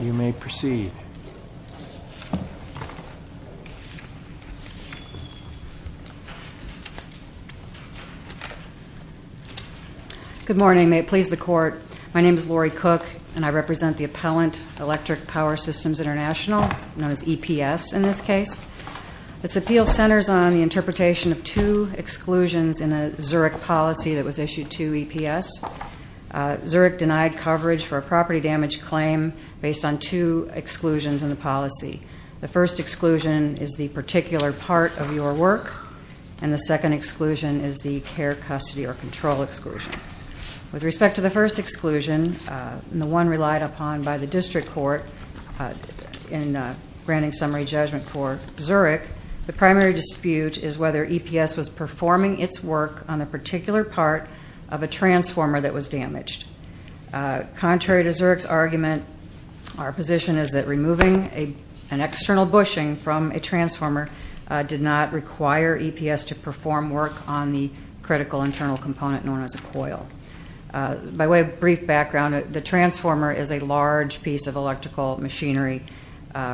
You may proceed. Good morning. May it please the Court. My name is Lori Cook, and I represent the appellant, Electric Power Systems International, known as EPS in this case. This appeal centers on the interpretation of two exclusions in a Zurich policy that was issued to EPS. Zurich denied coverage for a property damage claim based on two exclusions in the policy. The first exclusion is the particular part of your work, and the second exclusion is the care, custody, or control exclusion. With respect to the first exclusion, the one relied upon by the district court in granting summary judgment for Zurich, the primary dispute is whether EPS was performing its work on the particular part of a transformer that was damaged. Contrary to Zurich's argument, our position is that removing an external bushing from a transformer did not require EPS to perform work on the critical internal component known as a coil. By way of brief background, the transformer is a large piece of electrical machinery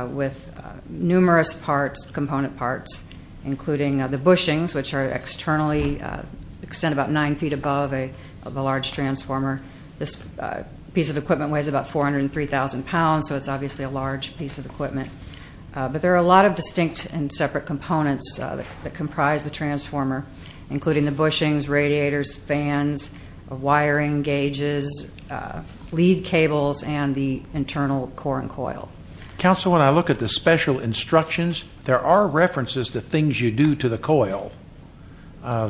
with numerous parts, component parts, including the bushings, which are externally extended about 9 feet above the large transformer. This piece of equipment weighs about 403,000 pounds, so it's obviously a large piece of equipment. But there are a lot of distinct and separate components that comprise the transformer, including the bushings, radiators, fans, wiring gauges, lead cables, and the internal core and coil. Counsel, when I look at the special instructions, there are references to things you do to the coil,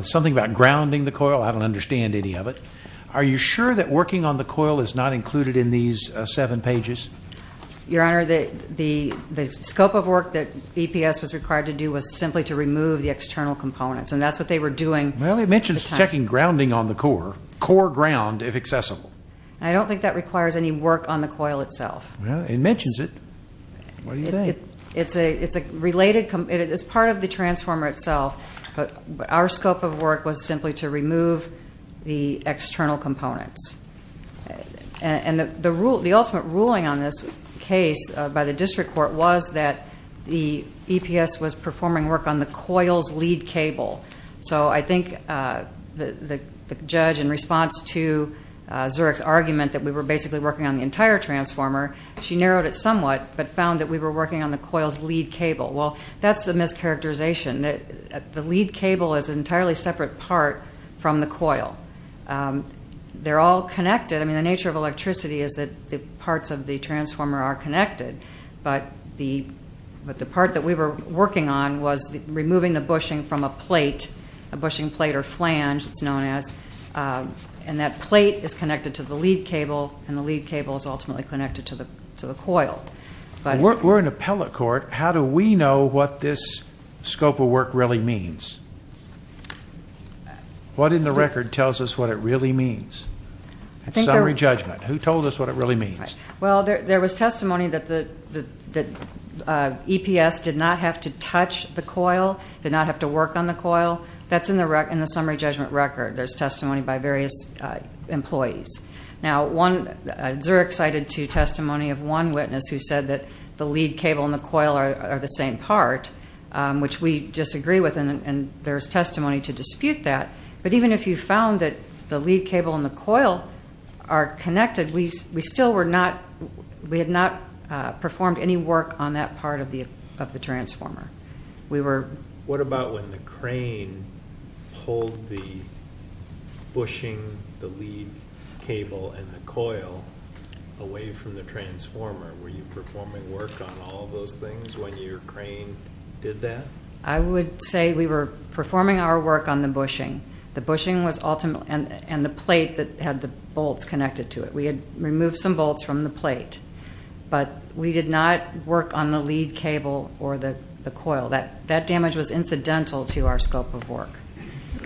something about grounding the coil. I don't understand any of it. Are you sure that working on the coil is not included in these seven pages? Your Honor, the scope of work that EPS was required to do was simply to remove the external components, and that's what they were doing at the time. Well, it mentions checking grounding on the core, core ground if accessible. I don't think that requires any work on the coil itself. Well, it mentions it. What do you think? It's part of the transformer itself, but our scope of work was simply to remove the external components. And the ultimate ruling on this case by the district court was that the EPS was performing work on the coil's lead cable. So I think the judge, in response to Zurich's argument that we were basically working on the entire transformer, she narrowed it somewhat but found that we were working on the coil's lead cable. Well, that's a mischaracterization. The lead cable is an entirely separate part from the coil. They're all connected. I mean, the nature of electricity is that the parts of the transformer are connected, but the part that we were working on was removing the bushing from a plate, a bushing plate or flange, it's known as. And that plate is connected to the lead cable, and the lead cable is ultimately connected to the coil. We're in appellate court. How do we know what this scope of work really means? What in the record tells us what it really means? Summary judgment. Who told us what it really means? Well, there was testimony that EPS did not have to touch the coil, did not have to work on the coil. That's in the summary judgment record. There's testimony by various employees. Now, Zurich cited testimony of one witness who said that the lead cable and the coil are the same part, which we disagree with, and there's testimony to dispute that. But even if you found that the lead cable and the coil are connected, we had not performed any work on that part of the transformer. What about when the crane pulled the bushing, the lead cable, and the coil away from the transformer? Were you performing work on all of those things when your crane did that? I would say we were performing our work on the bushing. The bushing was ultimate, and the plate that had the bolts connected to it. We had removed some bolts from the plate, but we did not work on the lead cable or the coil. That damage was incidental to our scope of work.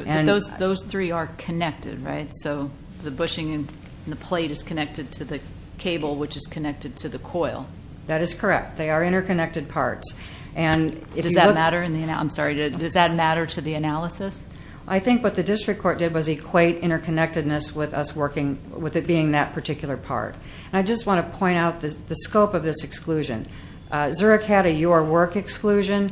Those three are connected, right? So the bushing and the plate is connected to the cable, which is connected to the coil. That is correct. They are interconnected parts. Does that matter to the analysis? I think what the district court did was equate interconnectedness with it being that particular part. I just want to point out the scope of this exclusion. Zurich had a Your Work exclusion,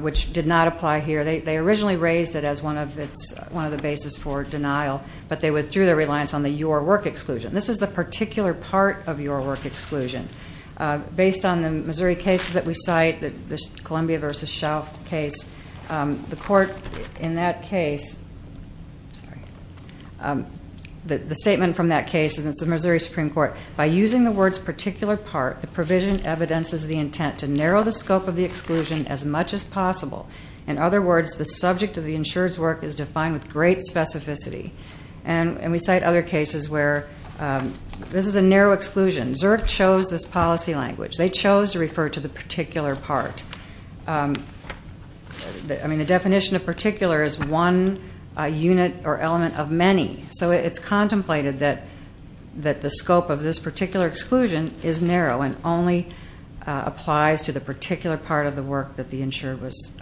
which did not apply here. They originally raised it as one of the bases for denial, but they withdrew their reliance on the Your Work exclusion. This is the particular part of Your Work exclusion. Based on the Missouri cases that we cite, the Columbia v. Shelf case, the court in that case, the statement from that case, and it's the Missouri Supreme Court, by using the words particular part, the provision evidences the intent to narrow the scope of the exclusion as much as possible. In other words, the subject of the insured's work is defined with great specificity. And we cite other cases where this is a narrow exclusion. Zurich chose this policy language. They chose to refer to the particular part. I mean, the definition of particular is one unit or element of many. So it's contemplated that the scope of this particular exclusion is narrow and only applies to the particular part of the work that the insured was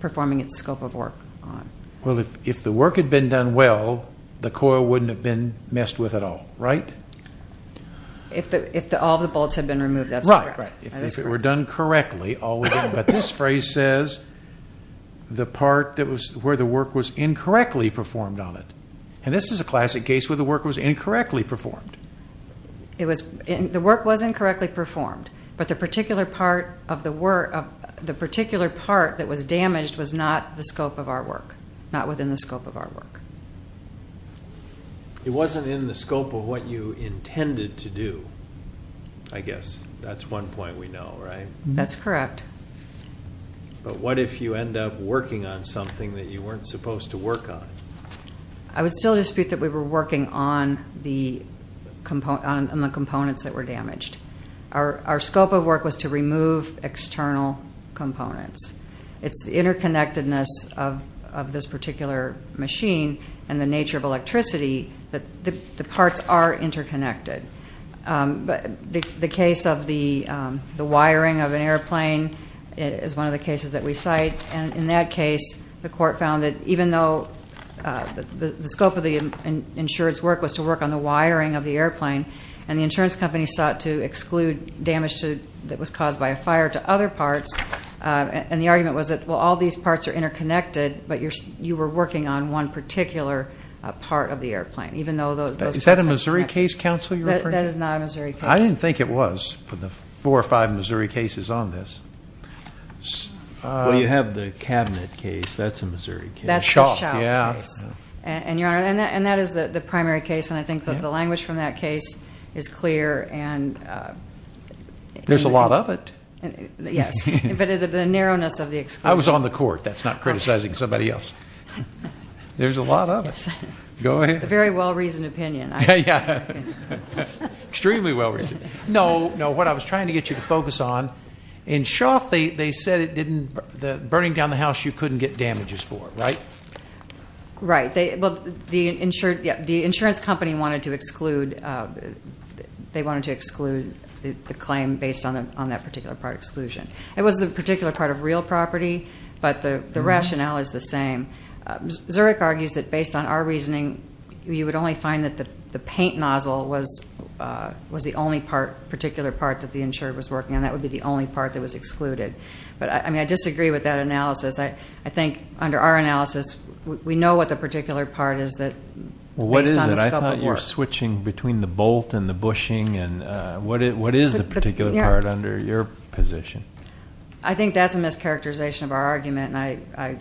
performing its scope of work on. Well, if the work had been done well, the coil wouldn't have been messed with at all, right? If all of the bolts had been removed, that's correct. Right, right. If it were done correctly, all would be. But this phrase says the part where the work was incorrectly performed on it. And this is a classic case where the work was incorrectly performed. The work was incorrectly performed, but the particular part that was damaged was not the scope of our work, not within the scope of our work. It wasn't in the scope of what you intended to do, I guess. That's one point we know, right? That's correct. But what if you end up working on something that you weren't supposed to work on? I would still dispute that we were working on the components that were damaged. Our scope of work was to remove external components. It's the interconnectedness of this particular machine and the nature of electricity that the parts are interconnected. The case of the wiring of an airplane is one of the cases that we cite. In that case, the court found that even though the scope of the insurance work was to work on the wiring of the airplane and the insurance company sought to exclude damage that was caused by a fire to other parts, and the argument was that, well, all these parts are interconnected, but you were working on one particular part of the airplane. Is that a Missouri case, counsel, you're referring to? That is not a Missouri case. I didn't think it was for the four or five Missouri cases on this. Well, you have the cabinet case. That's a Missouri case. That's the Schauff case. Yeah. And, Your Honor, that is the primary case, and I think that the language from that case is clear. There's a lot of it. Yes. But the narrowness of the exclusion. I was on the court. That's not criticizing somebody else. There's a lot of it. Yes. Go ahead. It's a very well-reasoned opinion. Yeah. Extremely well-reasoned. No, no, what I was trying to get you to focus on, in Schauff, they said it didn't, burning down the house, you couldn't get damages for it, right? Right. Well, the insurance company wanted to exclude, they wanted to exclude the claim based on that particular part of exclusion. It was the particular part of real property, but the rationale is the same. Zurich argues that, based on our reasoning, you would only find that the paint nozzle was the only particular part that the insurer was working on. That would be the only part that was excluded. But, I mean, I disagree with that analysis. I think, under our analysis, we know what the particular part is based on the scope of work. Well, what is it? I thought you were switching between the bolt and the bushing, and what is the particular part under your position? I think that's a mischaracterization of our argument. And I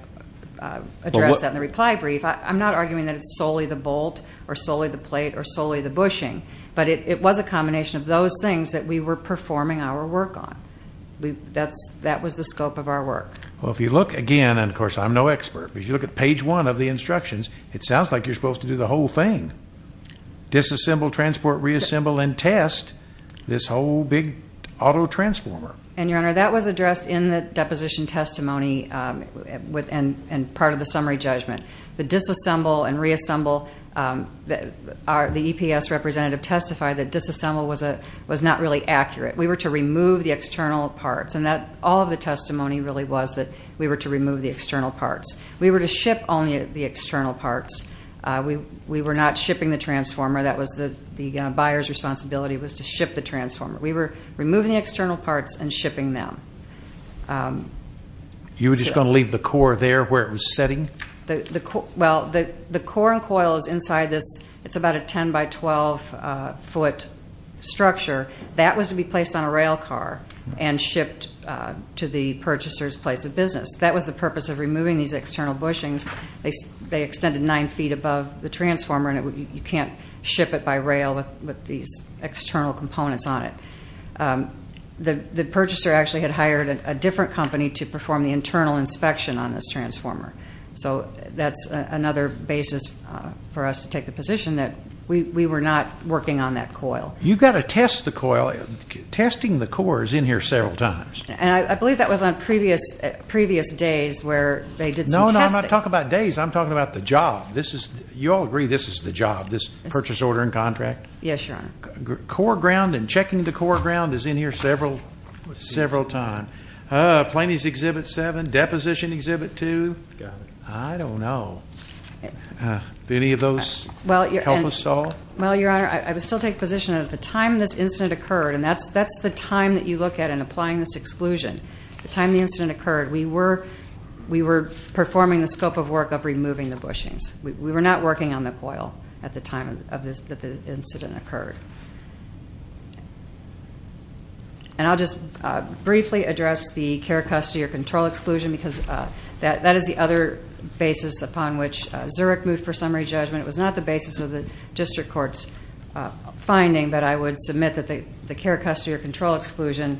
addressed that in the reply brief. I'm not arguing that it's solely the bolt or solely the plate or solely the bushing. But it was a combination of those things that we were performing our work on. That was the scope of our work. Well, if you look again, and, of course, I'm no expert, but if you look at page one of the instructions, it sounds like you're supposed to do the whole thing. Disassemble, transport, reassemble, and test this whole big auto transformer. And, Your Honor, that was addressed in the deposition testimony and part of the summary judgment. The disassemble and reassemble, the EPS representative testified that disassemble was not really accurate. We were to remove the external parts. And all of the testimony really was that we were to remove the external parts. We were to ship only the external parts. We were not shipping the transformer. That was the buyer's responsibility was to ship the transformer. We were removing the external parts and shipping them. You were just going to leave the core there where it was sitting? Well, the core and coil is inside this. It's about a 10-by-12-foot structure. That was to be placed on a rail car and shipped to the purchaser's place of business. That was the purpose of removing these external bushings. They extended nine feet above the transformer, and you can't ship it by rail with these external components on it. The purchaser actually had hired a different company to perform the internal inspection on this transformer. So that's another basis for us to take the position that we were not working on that coil. You've got to test the coil. Testing the core is in here several times. And I believe that was on previous days where they did some testing. When I talk about days, I'm talking about the job. You all agree this is the job, this purchase order and contract? Yes, Your Honor. Core ground and checking the core ground is in here several times. Plaintiff's Exhibit 7, deposition Exhibit 2. I don't know. Did any of those help us at all? Well, Your Honor, I would still take the position that at the time this incident occurred, and that's the time that you look at in applying this exclusion, the time the incident occurred, we were performing the scope of work of removing the bushings. We were not working on the coil at the time that the incident occurred. And I'll just briefly address the care, custody, or control exclusion, because that is the other basis upon which Zurich moved for summary judgment. It was not the basis of the district court's finding, but I would submit that the care, custody, or control exclusion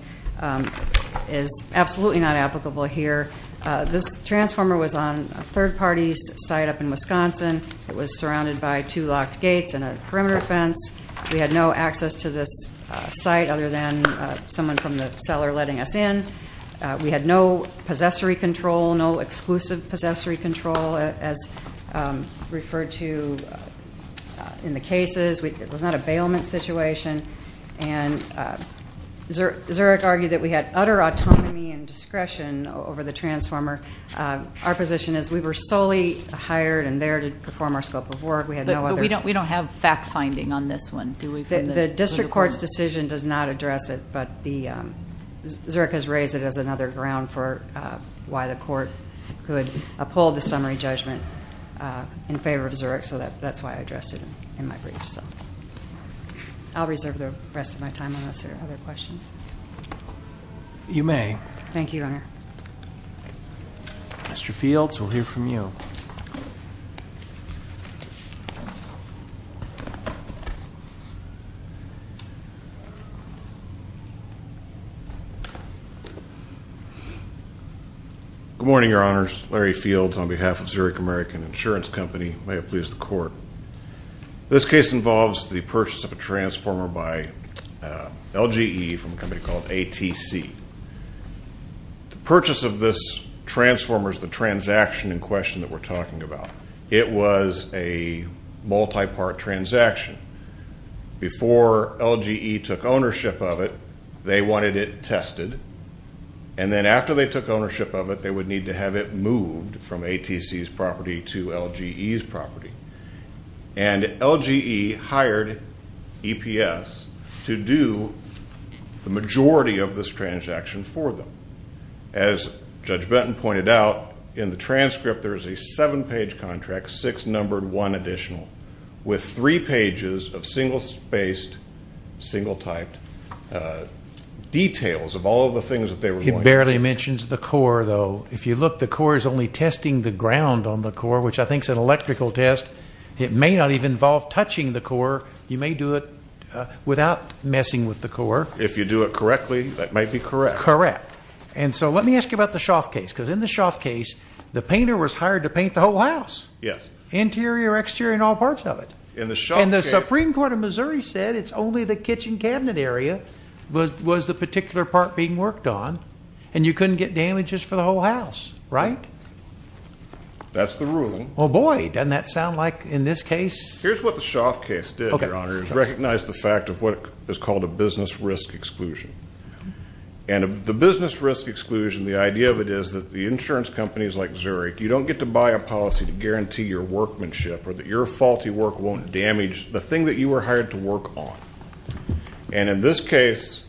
is absolutely not applicable here. This transformer was on a third party's site up in Wisconsin. It was surrounded by two locked gates and a perimeter fence. We had no access to this site other than someone from the seller letting us in. We had no possessory control, no exclusive possessory control, as referred to in the cases. It was not a bailment situation, and Zurich argued that we had utter autonomy and discretion over the transformer. Our position is we were solely hired and there to perform our scope of work. But we don't have fact-finding on this one, do we? The district court's decision does not address it, but Zurich has raised it as another ground for why the court could uphold the summary judgment in favor of Zurich, so that's why I addressed it in my brief. I'll reserve the rest of my time unless there are other questions. Thank you, Your Honor. Mr. Fields, we'll hear from you. Good morning, Your Honors. Larry Fields on behalf of Zurich American Insurance Company. May it please the court. This case involves the purchase of a transformer by LGE from a company called ATC. The purchase of this transformer is the transaction in question that we're talking about. It was a multi-part transaction. Before LGE took ownership of it, they wanted it tested. And then after they took ownership of it, they would need to have it moved from ATC's property to LGE's property. And LGE hired EPS to do the majority of this transaction for them. As Judge Benton pointed out, in the transcript there is a seven-page contract, six numbered, one additional, with three pages of single-spaced, single-typed details of all the things that they were wanting. It barely mentions the core, though. If you look, the core is only testing the ground on the core, which I think is an electrical test. It may not even involve touching the core. You may do it without messing with the core. If you do it correctly, that might be correct. Correct. And so let me ask you about the Schaaf case, because in the Schaaf case, the painter was hired to paint the whole house. Yes. Interior, exterior, and all parts of it. In the Schaaf case. And the Supreme Court of Missouri said it's only the kitchen cabinet area was the particular part being worked on, and you couldn't get damages for the whole house, right? That's the ruling. Oh, boy, doesn't that sound like, in this case. Here's what the Schaaf case did, Your Honor, is recognize the fact of what is called a business risk exclusion. And the business risk exclusion, the idea of it is that the insurance companies like Zurich, you don't get to buy a policy to guarantee your workmanship or that your faulty work won't damage the thing that you were hired to work on. And in this case,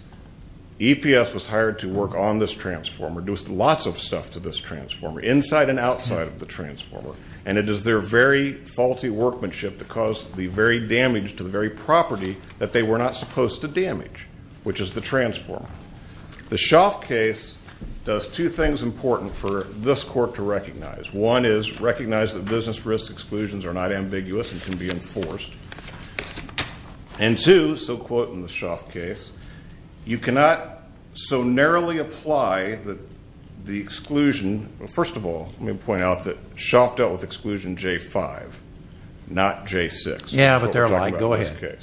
EPS was hired to work on this transformer, do lots of stuff to this transformer, inside and outside of the transformer. And it is their very faulty workmanship that caused the very damage to the very property that they were not supposed to damage, which is the transformer. The Schaaf case does two things important for this court to recognize. One is recognize that business risk exclusions are not ambiguous and can be enforced. And two, so quote in the Schaaf case, you cannot so narrowly apply the exclusion. First of all, let me point out that Schaaf dealt with exclusion J5, not J6. Yeah, but they're lying. Go ahead.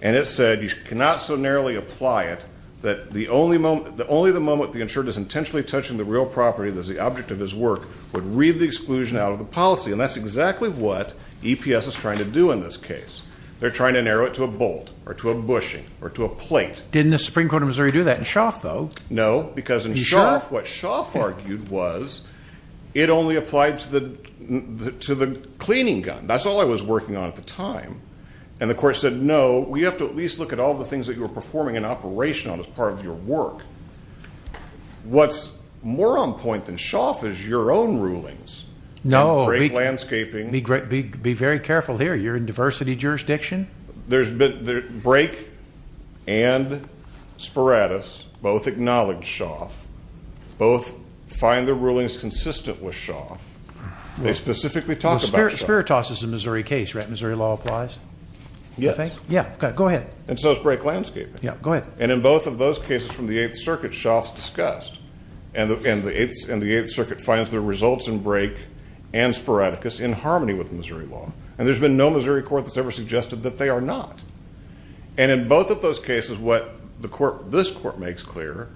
And it said you cannot so narrowly apply it that only the moment the insured is intentionally touching the real property that's the object of his work would read the exclusion out of the policy. And that's exactly what EPS is trying to do in this case. They're trying to narrow it to a bolt or to a bushing or to a plate. Didn't the Supreme Court of Missouri do that in Schaaf, though? No, because in Schaaf, what Schaaf argued was it only applied to the cleaning gun. That's all I was working on at the time. And the court said, no, we have to at least look at all the things that you were performing an operation on as part of your work. What's more on point than Schaaf is your own rulings. No. Break landscaping. Be very careful here. You're in diversity jurisdiction. Break and Sparatus both acknowledged Schaaf, both find the rulings consistent with Schaaf. They specifically talk about Schaaf. Sparatus is a Missouri case, right? Missouri law applies? Yes. Yeah, go ahead. And so is break landscaping. Yeah, go ahead. And in both of those cases from the Eighth Circuit, Schaaf's discussed. And the Eighth Circuit finds the results in break and Sparatus in harmony with Missouri law. And there's been no Missouri court that's ever suggested that they are not. And in both of those cases, what this court makes clear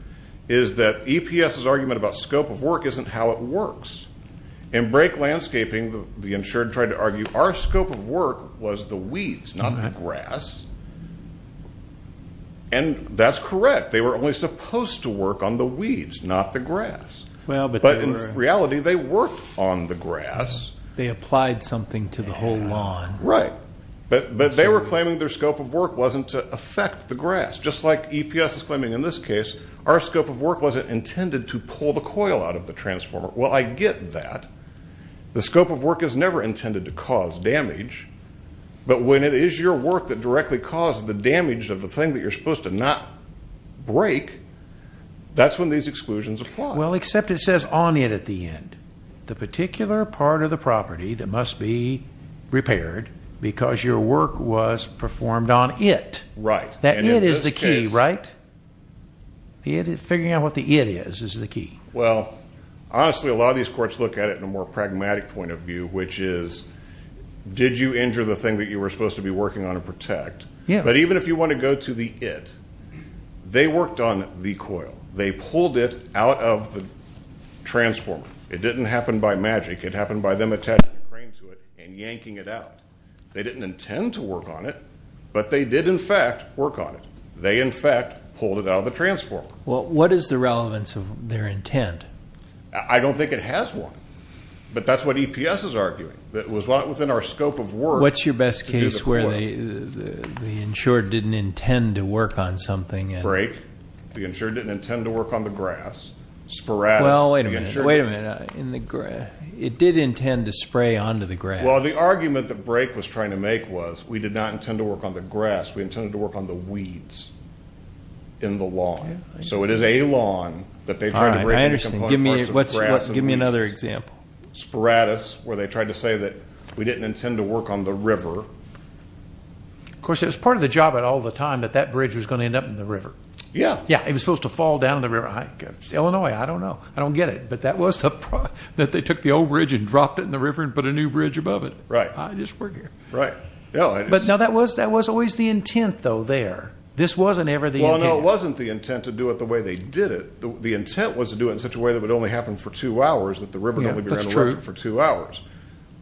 is that EPS's argument about scope of work isn't how it works. In break landscaping, the insured tried to argue our scope of work was the weeds, not the grass. And that's correct. They were only supposed to work on the weeds, not the grass. But in reality, they worked on the grass. They applied something to the whole lawn. Right. But they were claiming their scope of work wasn't to affect the grass, just like EPS is claiming in this case. Our scope of work wasn't intended to pull the coil out of the transformer. Well, I get that. The scope of work is never intended to cause damage. But when it is your work that directly causes the damage of the thing that you're supposed to not break, that's when these exclusions apply. Well, except it says on it at the end. The particular part of the property that must be repaired because your work was performed on it. Right. That it is the key, right? Figuring out what the it is is the key. Well, honestly, a lot of these courts look at it in a more pragmatic point of view, which is did you injure the thing that you were supposed to be working on to protect? Yeah. But even if you want to go to the it, they worked on the coil. They pulled it out of the transformer. It didn't happen by magic. It happened by them attaching a crane to it and yanking it out. They didn't intend to work on it, but they did, in fact, work on it. They, in fact, pulled it out of the transformer. Well, what is the relevance of their intent? I don't think it has one, but that's what EPS is arguing. It was within our scope of work. What's your best case where the insured didn't intend to work on something? Break. The insured didn't intend to work on the grass. Sporadically. Wait a minute. It did intend to spray onto the grass. Well, the argument that break was trying to make was we did not intend to work on the grass. We intended to work on the weeds in the lawn. So it is a lawn that they tried to break. All right. I understand. Give me another example. Sporadus, where they tried to say that we didn't intend to work on the river. Of course, it was part of the job at all the time that that bridge was going to end up in the river. Yeah. Yeah. It was supposed to fall down in the river. Illinois, I don't know. I don't get it. But that was the problem, that they took the old bridge and dropped it in the river and put a new bridge above it. Right. I just work here. Right. But, no, that was always the intent, though, there. This wasn't ever the intent. Well, no, it wasn't the intent to do it the way they did it. The intent was to do it in such a way that it would only happen for two hours, that the river would only be around for two hours. That's true.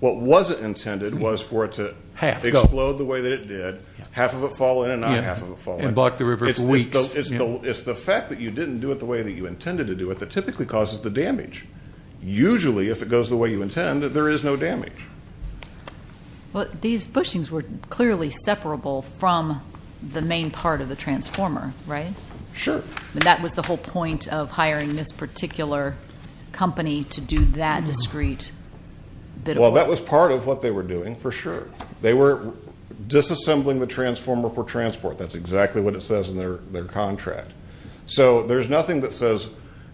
What wasn't intended was for it to explode the way that it did, half of it fall in and not half of it fall in. And block the river for weeks. It's the fact that you didn't do it the way that you intended to do it that typically causes the damage. Usually, if it goes the way you intend, there is no damage. Well, these bushings were clearly separable from the main part of the transformer, right? Sure. That was the whole point of hiring this particular company to do that discrete bit of work. Well, that was part of what they were doing, for sure. They were disassembling the transformer for transport. That's exactly what it says in their contract. So there's nothing that says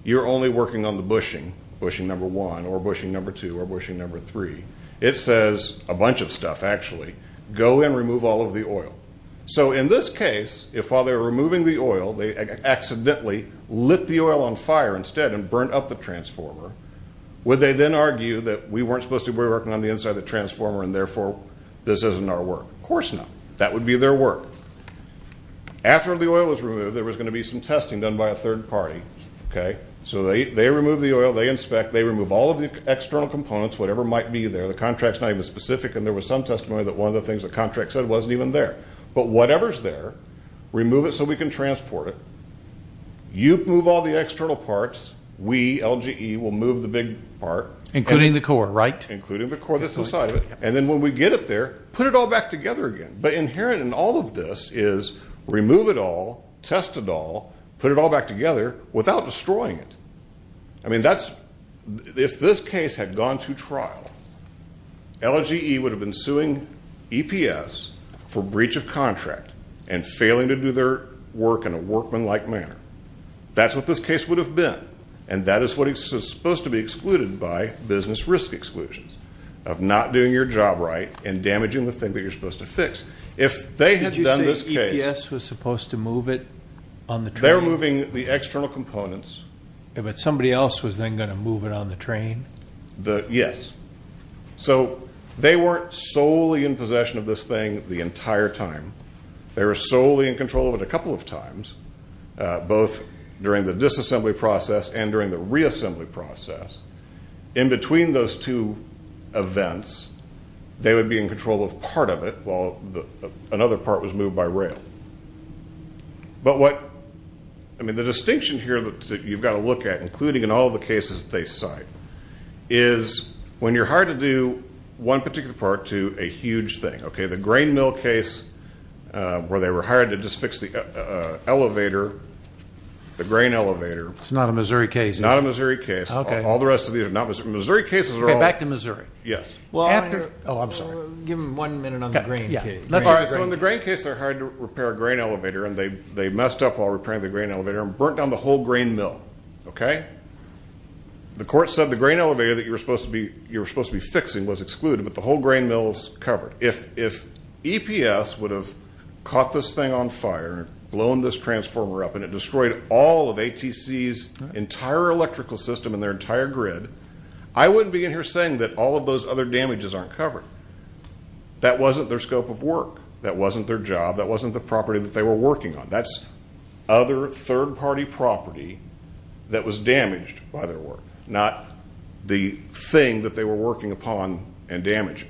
you're only working on the bushing, bushing number one or bushing number two or bushing number three. It says a bunch of stuff, actually. Go and remove all of the oil. So in this case, if while they were removing the oil, they accidentally lit the oil on fire instead and burnt up the transformer, would they then argue that we weren't supposed to be working on the inside of the transformer and, therefore, this isn't our work? Of course not. That would be their work. After the oil was removed, there was going to be some testing done by a third party, okay? So they remove the oil, they inspect, they remove all of the external components, whatever might be there. The contract's not even specific, and there was some testimony that one of the things the contract said wasn't even there. But whatever's there, remove it so we can transport it. You move all the external parts. We, LGE, will move the big part. Including the core, right? Including the core that's inside of it. And then when we get it there, put it all back together again. But inherent in all of this is remove it all, test it all, put it all back together without destroying it. I mean, if this case had gone to trial, LGE would have been suing EPS for breach of contract and failing to do their work in a workmanlike manner. That's what this case would have been. And that is what is supposed to be excluded by business risk exclusions of not doing your job right and damaging the thing that you're supposed to fix. If they had done this case- Did you say EPS was supposed to move it on the train? They were moving the external components. But somebody else was then going to move it on the train? Yes. So they weren't solely in possession of this thing the entire time. They were solely in control of it a couple of times, both during the disassembly process and during the reassembly process. In between those two events, they would be in control of part of it while another part was moved by rail. But what- I mean, the distinction here that you've got to look at, including in all the cases that they cite, is when you're hired to do one particular part to a huge thing. The grain mill case where they were hired to just fix the elevator, the grain elevator- It's not a Missouri case. It's not a Missouri case. All the rest of these are not Missouri. Missouri cases are all- Back to Missouri. Yes. After- Oh, I'm sorry. Give him one minute on the grain case. All right. So in the grain case, they're hired to repair a grain elevator, and they messed up while repairing the grain elevator and burnt down the whole grain mill. The court said the grain elevator that you were supposed to be fixing was excluded, but the whole grain mill is covered. If EPS would have caught this thing on fire, blown this transformer up, and it destroyed all of ATC's entire electrical system and their entire grid, I wouldn't be in here saying that all of those other damages aren't covered. That wasn't their scope of work. That wasn't their job. That wasn't the property that they were working on. That's other third-party property that was damaged by their work, not the thing that they were working upon and damaging.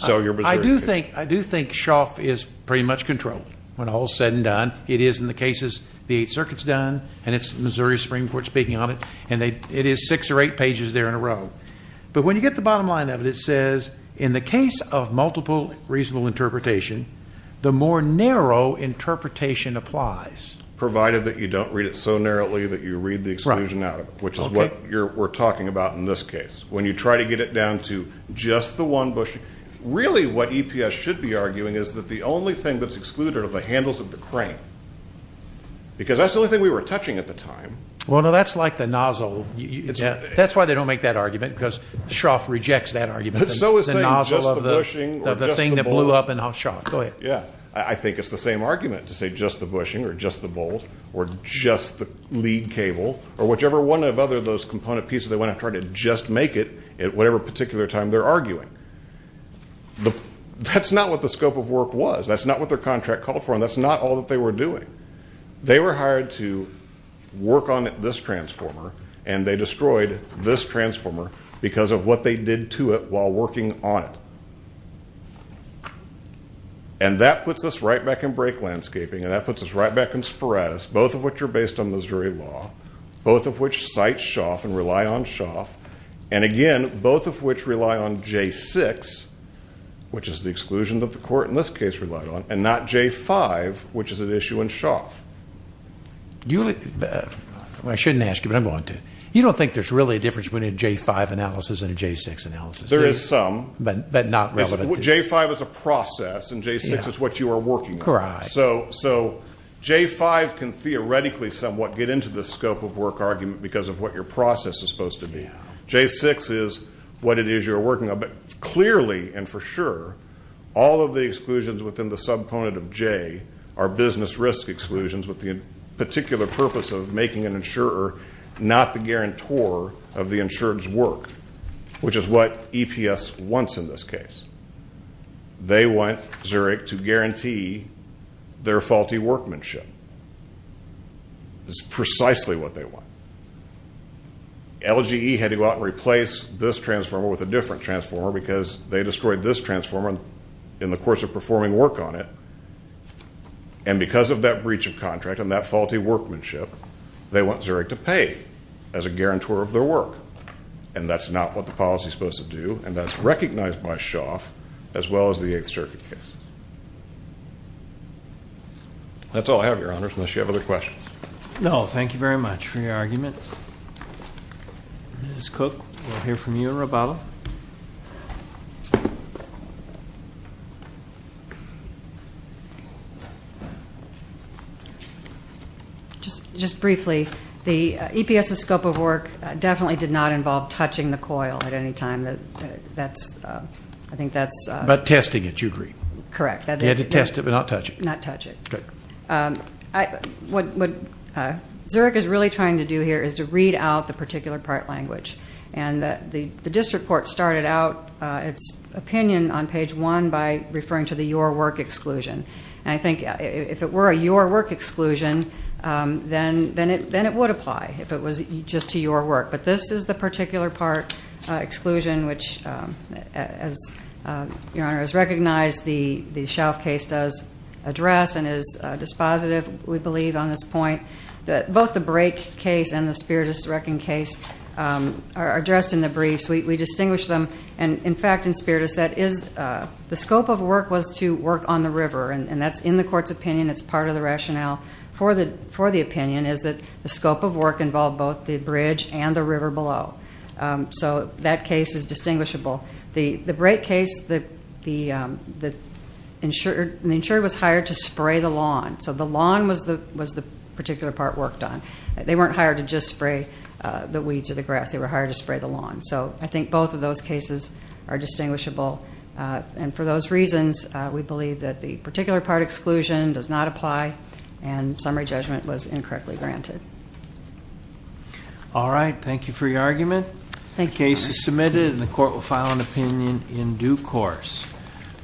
I do think Schauff is pretty much controlled when all is said and done. It is in the cases the Eighth Circuit's done, and it's Missouri Supreme Court speaking on it, and it is six or eight pages there in a row. But when you get to the bottom line of it, it says in the case of multiple reasonable interpretation, the more narrow interpretation applies. Provided that you don't read it so narrowly that you read the exclusion out of it, which is what we're talking about in this case. When you try to get it down to just the one bushing, really what EPS should be arguing is that the only thing that's excluded are the handles of the crane, because that's the only thing we were touching at the time. Well, no, that's like the nozzle. That's why they don't make that argument, because Schauff rejects that argument, the nozzle of the thing that blew up in Schauff. Go ahead. I think it's the same argument to say just the bushing or just the bolt or just the lead cable, or whichever one of those other component pieces they went after to just make it at whatever particular time they're arguing. That's not what the scope of work was. That's not what their contract called for, and that's not all that they were doing. They were hired to work on this transformer, and they destroyed this transformer because of what they did to it while working on it. And that puts us right back in brake landscaping, and that puts us right back in sporadics, both of which are based on Missouri law, both of which cite Schauff and rely on Schauff, and, again, both of which rely on J6, which is the exclusion that the court in this case relied on, and not J5, which is at issue in Schauff. I shouldn't ask you, but I'm going to. You don't think there's really a difference between a J5 analysis and a J6 analysis, do you? There is some. But not relevant. J5 is a process, and J6 is what you are working on. Correct. So J5 can theoretically somewhat get into the scope of work argument because of what your process is supposed to be. J6 is what it is you're working on. But clearly and for sure, all of the exclusions within the subcomponent of J are business risk exclusions with the particular purpose of making an insurer not the guarantor of the insured's work, which is what EPS wants in this case. They want Zurich to guarantee their faulty workmanship. It's precisely what they want. LGE had to go out and replace this transformer with a different transformer because they destroyed this transformer in the course of performing work on it. And because of that breach of contract and that faulty workmanship, they want Zurich to pay as a guarantor of their work. And that's not what the policy is supposed to do, and that's recognized by Schauff, as well as the Eighth Circuit case. That's all I have, Your Honors, unless you have other questions. No, thank you very much for your argument. Ms. Cook, we'll hear from you in Roboto. Just briefly, the EPS's scope of work definitely did not involve touching the coil at any time. But testing it, you agree. Correct. You had to test it but not touch it. Not touch it. Okay. What Zurich is really trying to do here is to read out the particular part language. And the district court started out its opinion on page one by referring to the your work exclusion. And I think if it were a your work exclusion, then it would apply if it was just to your work. But this is the particular part exclusion which, as Your Honor has recognized, the Schauff case does address and is dispositive, we believe, on this point. Both the Brake case and the Spiritus Reckon case are addressed in the briefs. We distinguish them. And in fact, in Spiritus, the scope of work was to work on the river. And that's in the court's opinion. It's part of the rationale for the opinion is that the scope of work involved both the bridge and the river below. So that case is distinguishable. The Brake case, the insurer was hired to spray the lawn. So the lawn was the particular part worked on. They weren't hired to just spray the weeds or the grass. They were hired to spray the lawn. So I think both of those cases are distinguishable. And for those reasons, we believe that the particular part exclusion does not apply. And summary judgment was incorrectly granted. All right. Thank you for your argument. Thank you, Your Honor. The case is submitted, and the court will file an opinion in due course.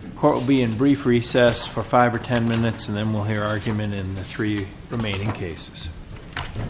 The court will be in brief recess for five or ten minutes, and then we'll hear argument in the three remaining cases.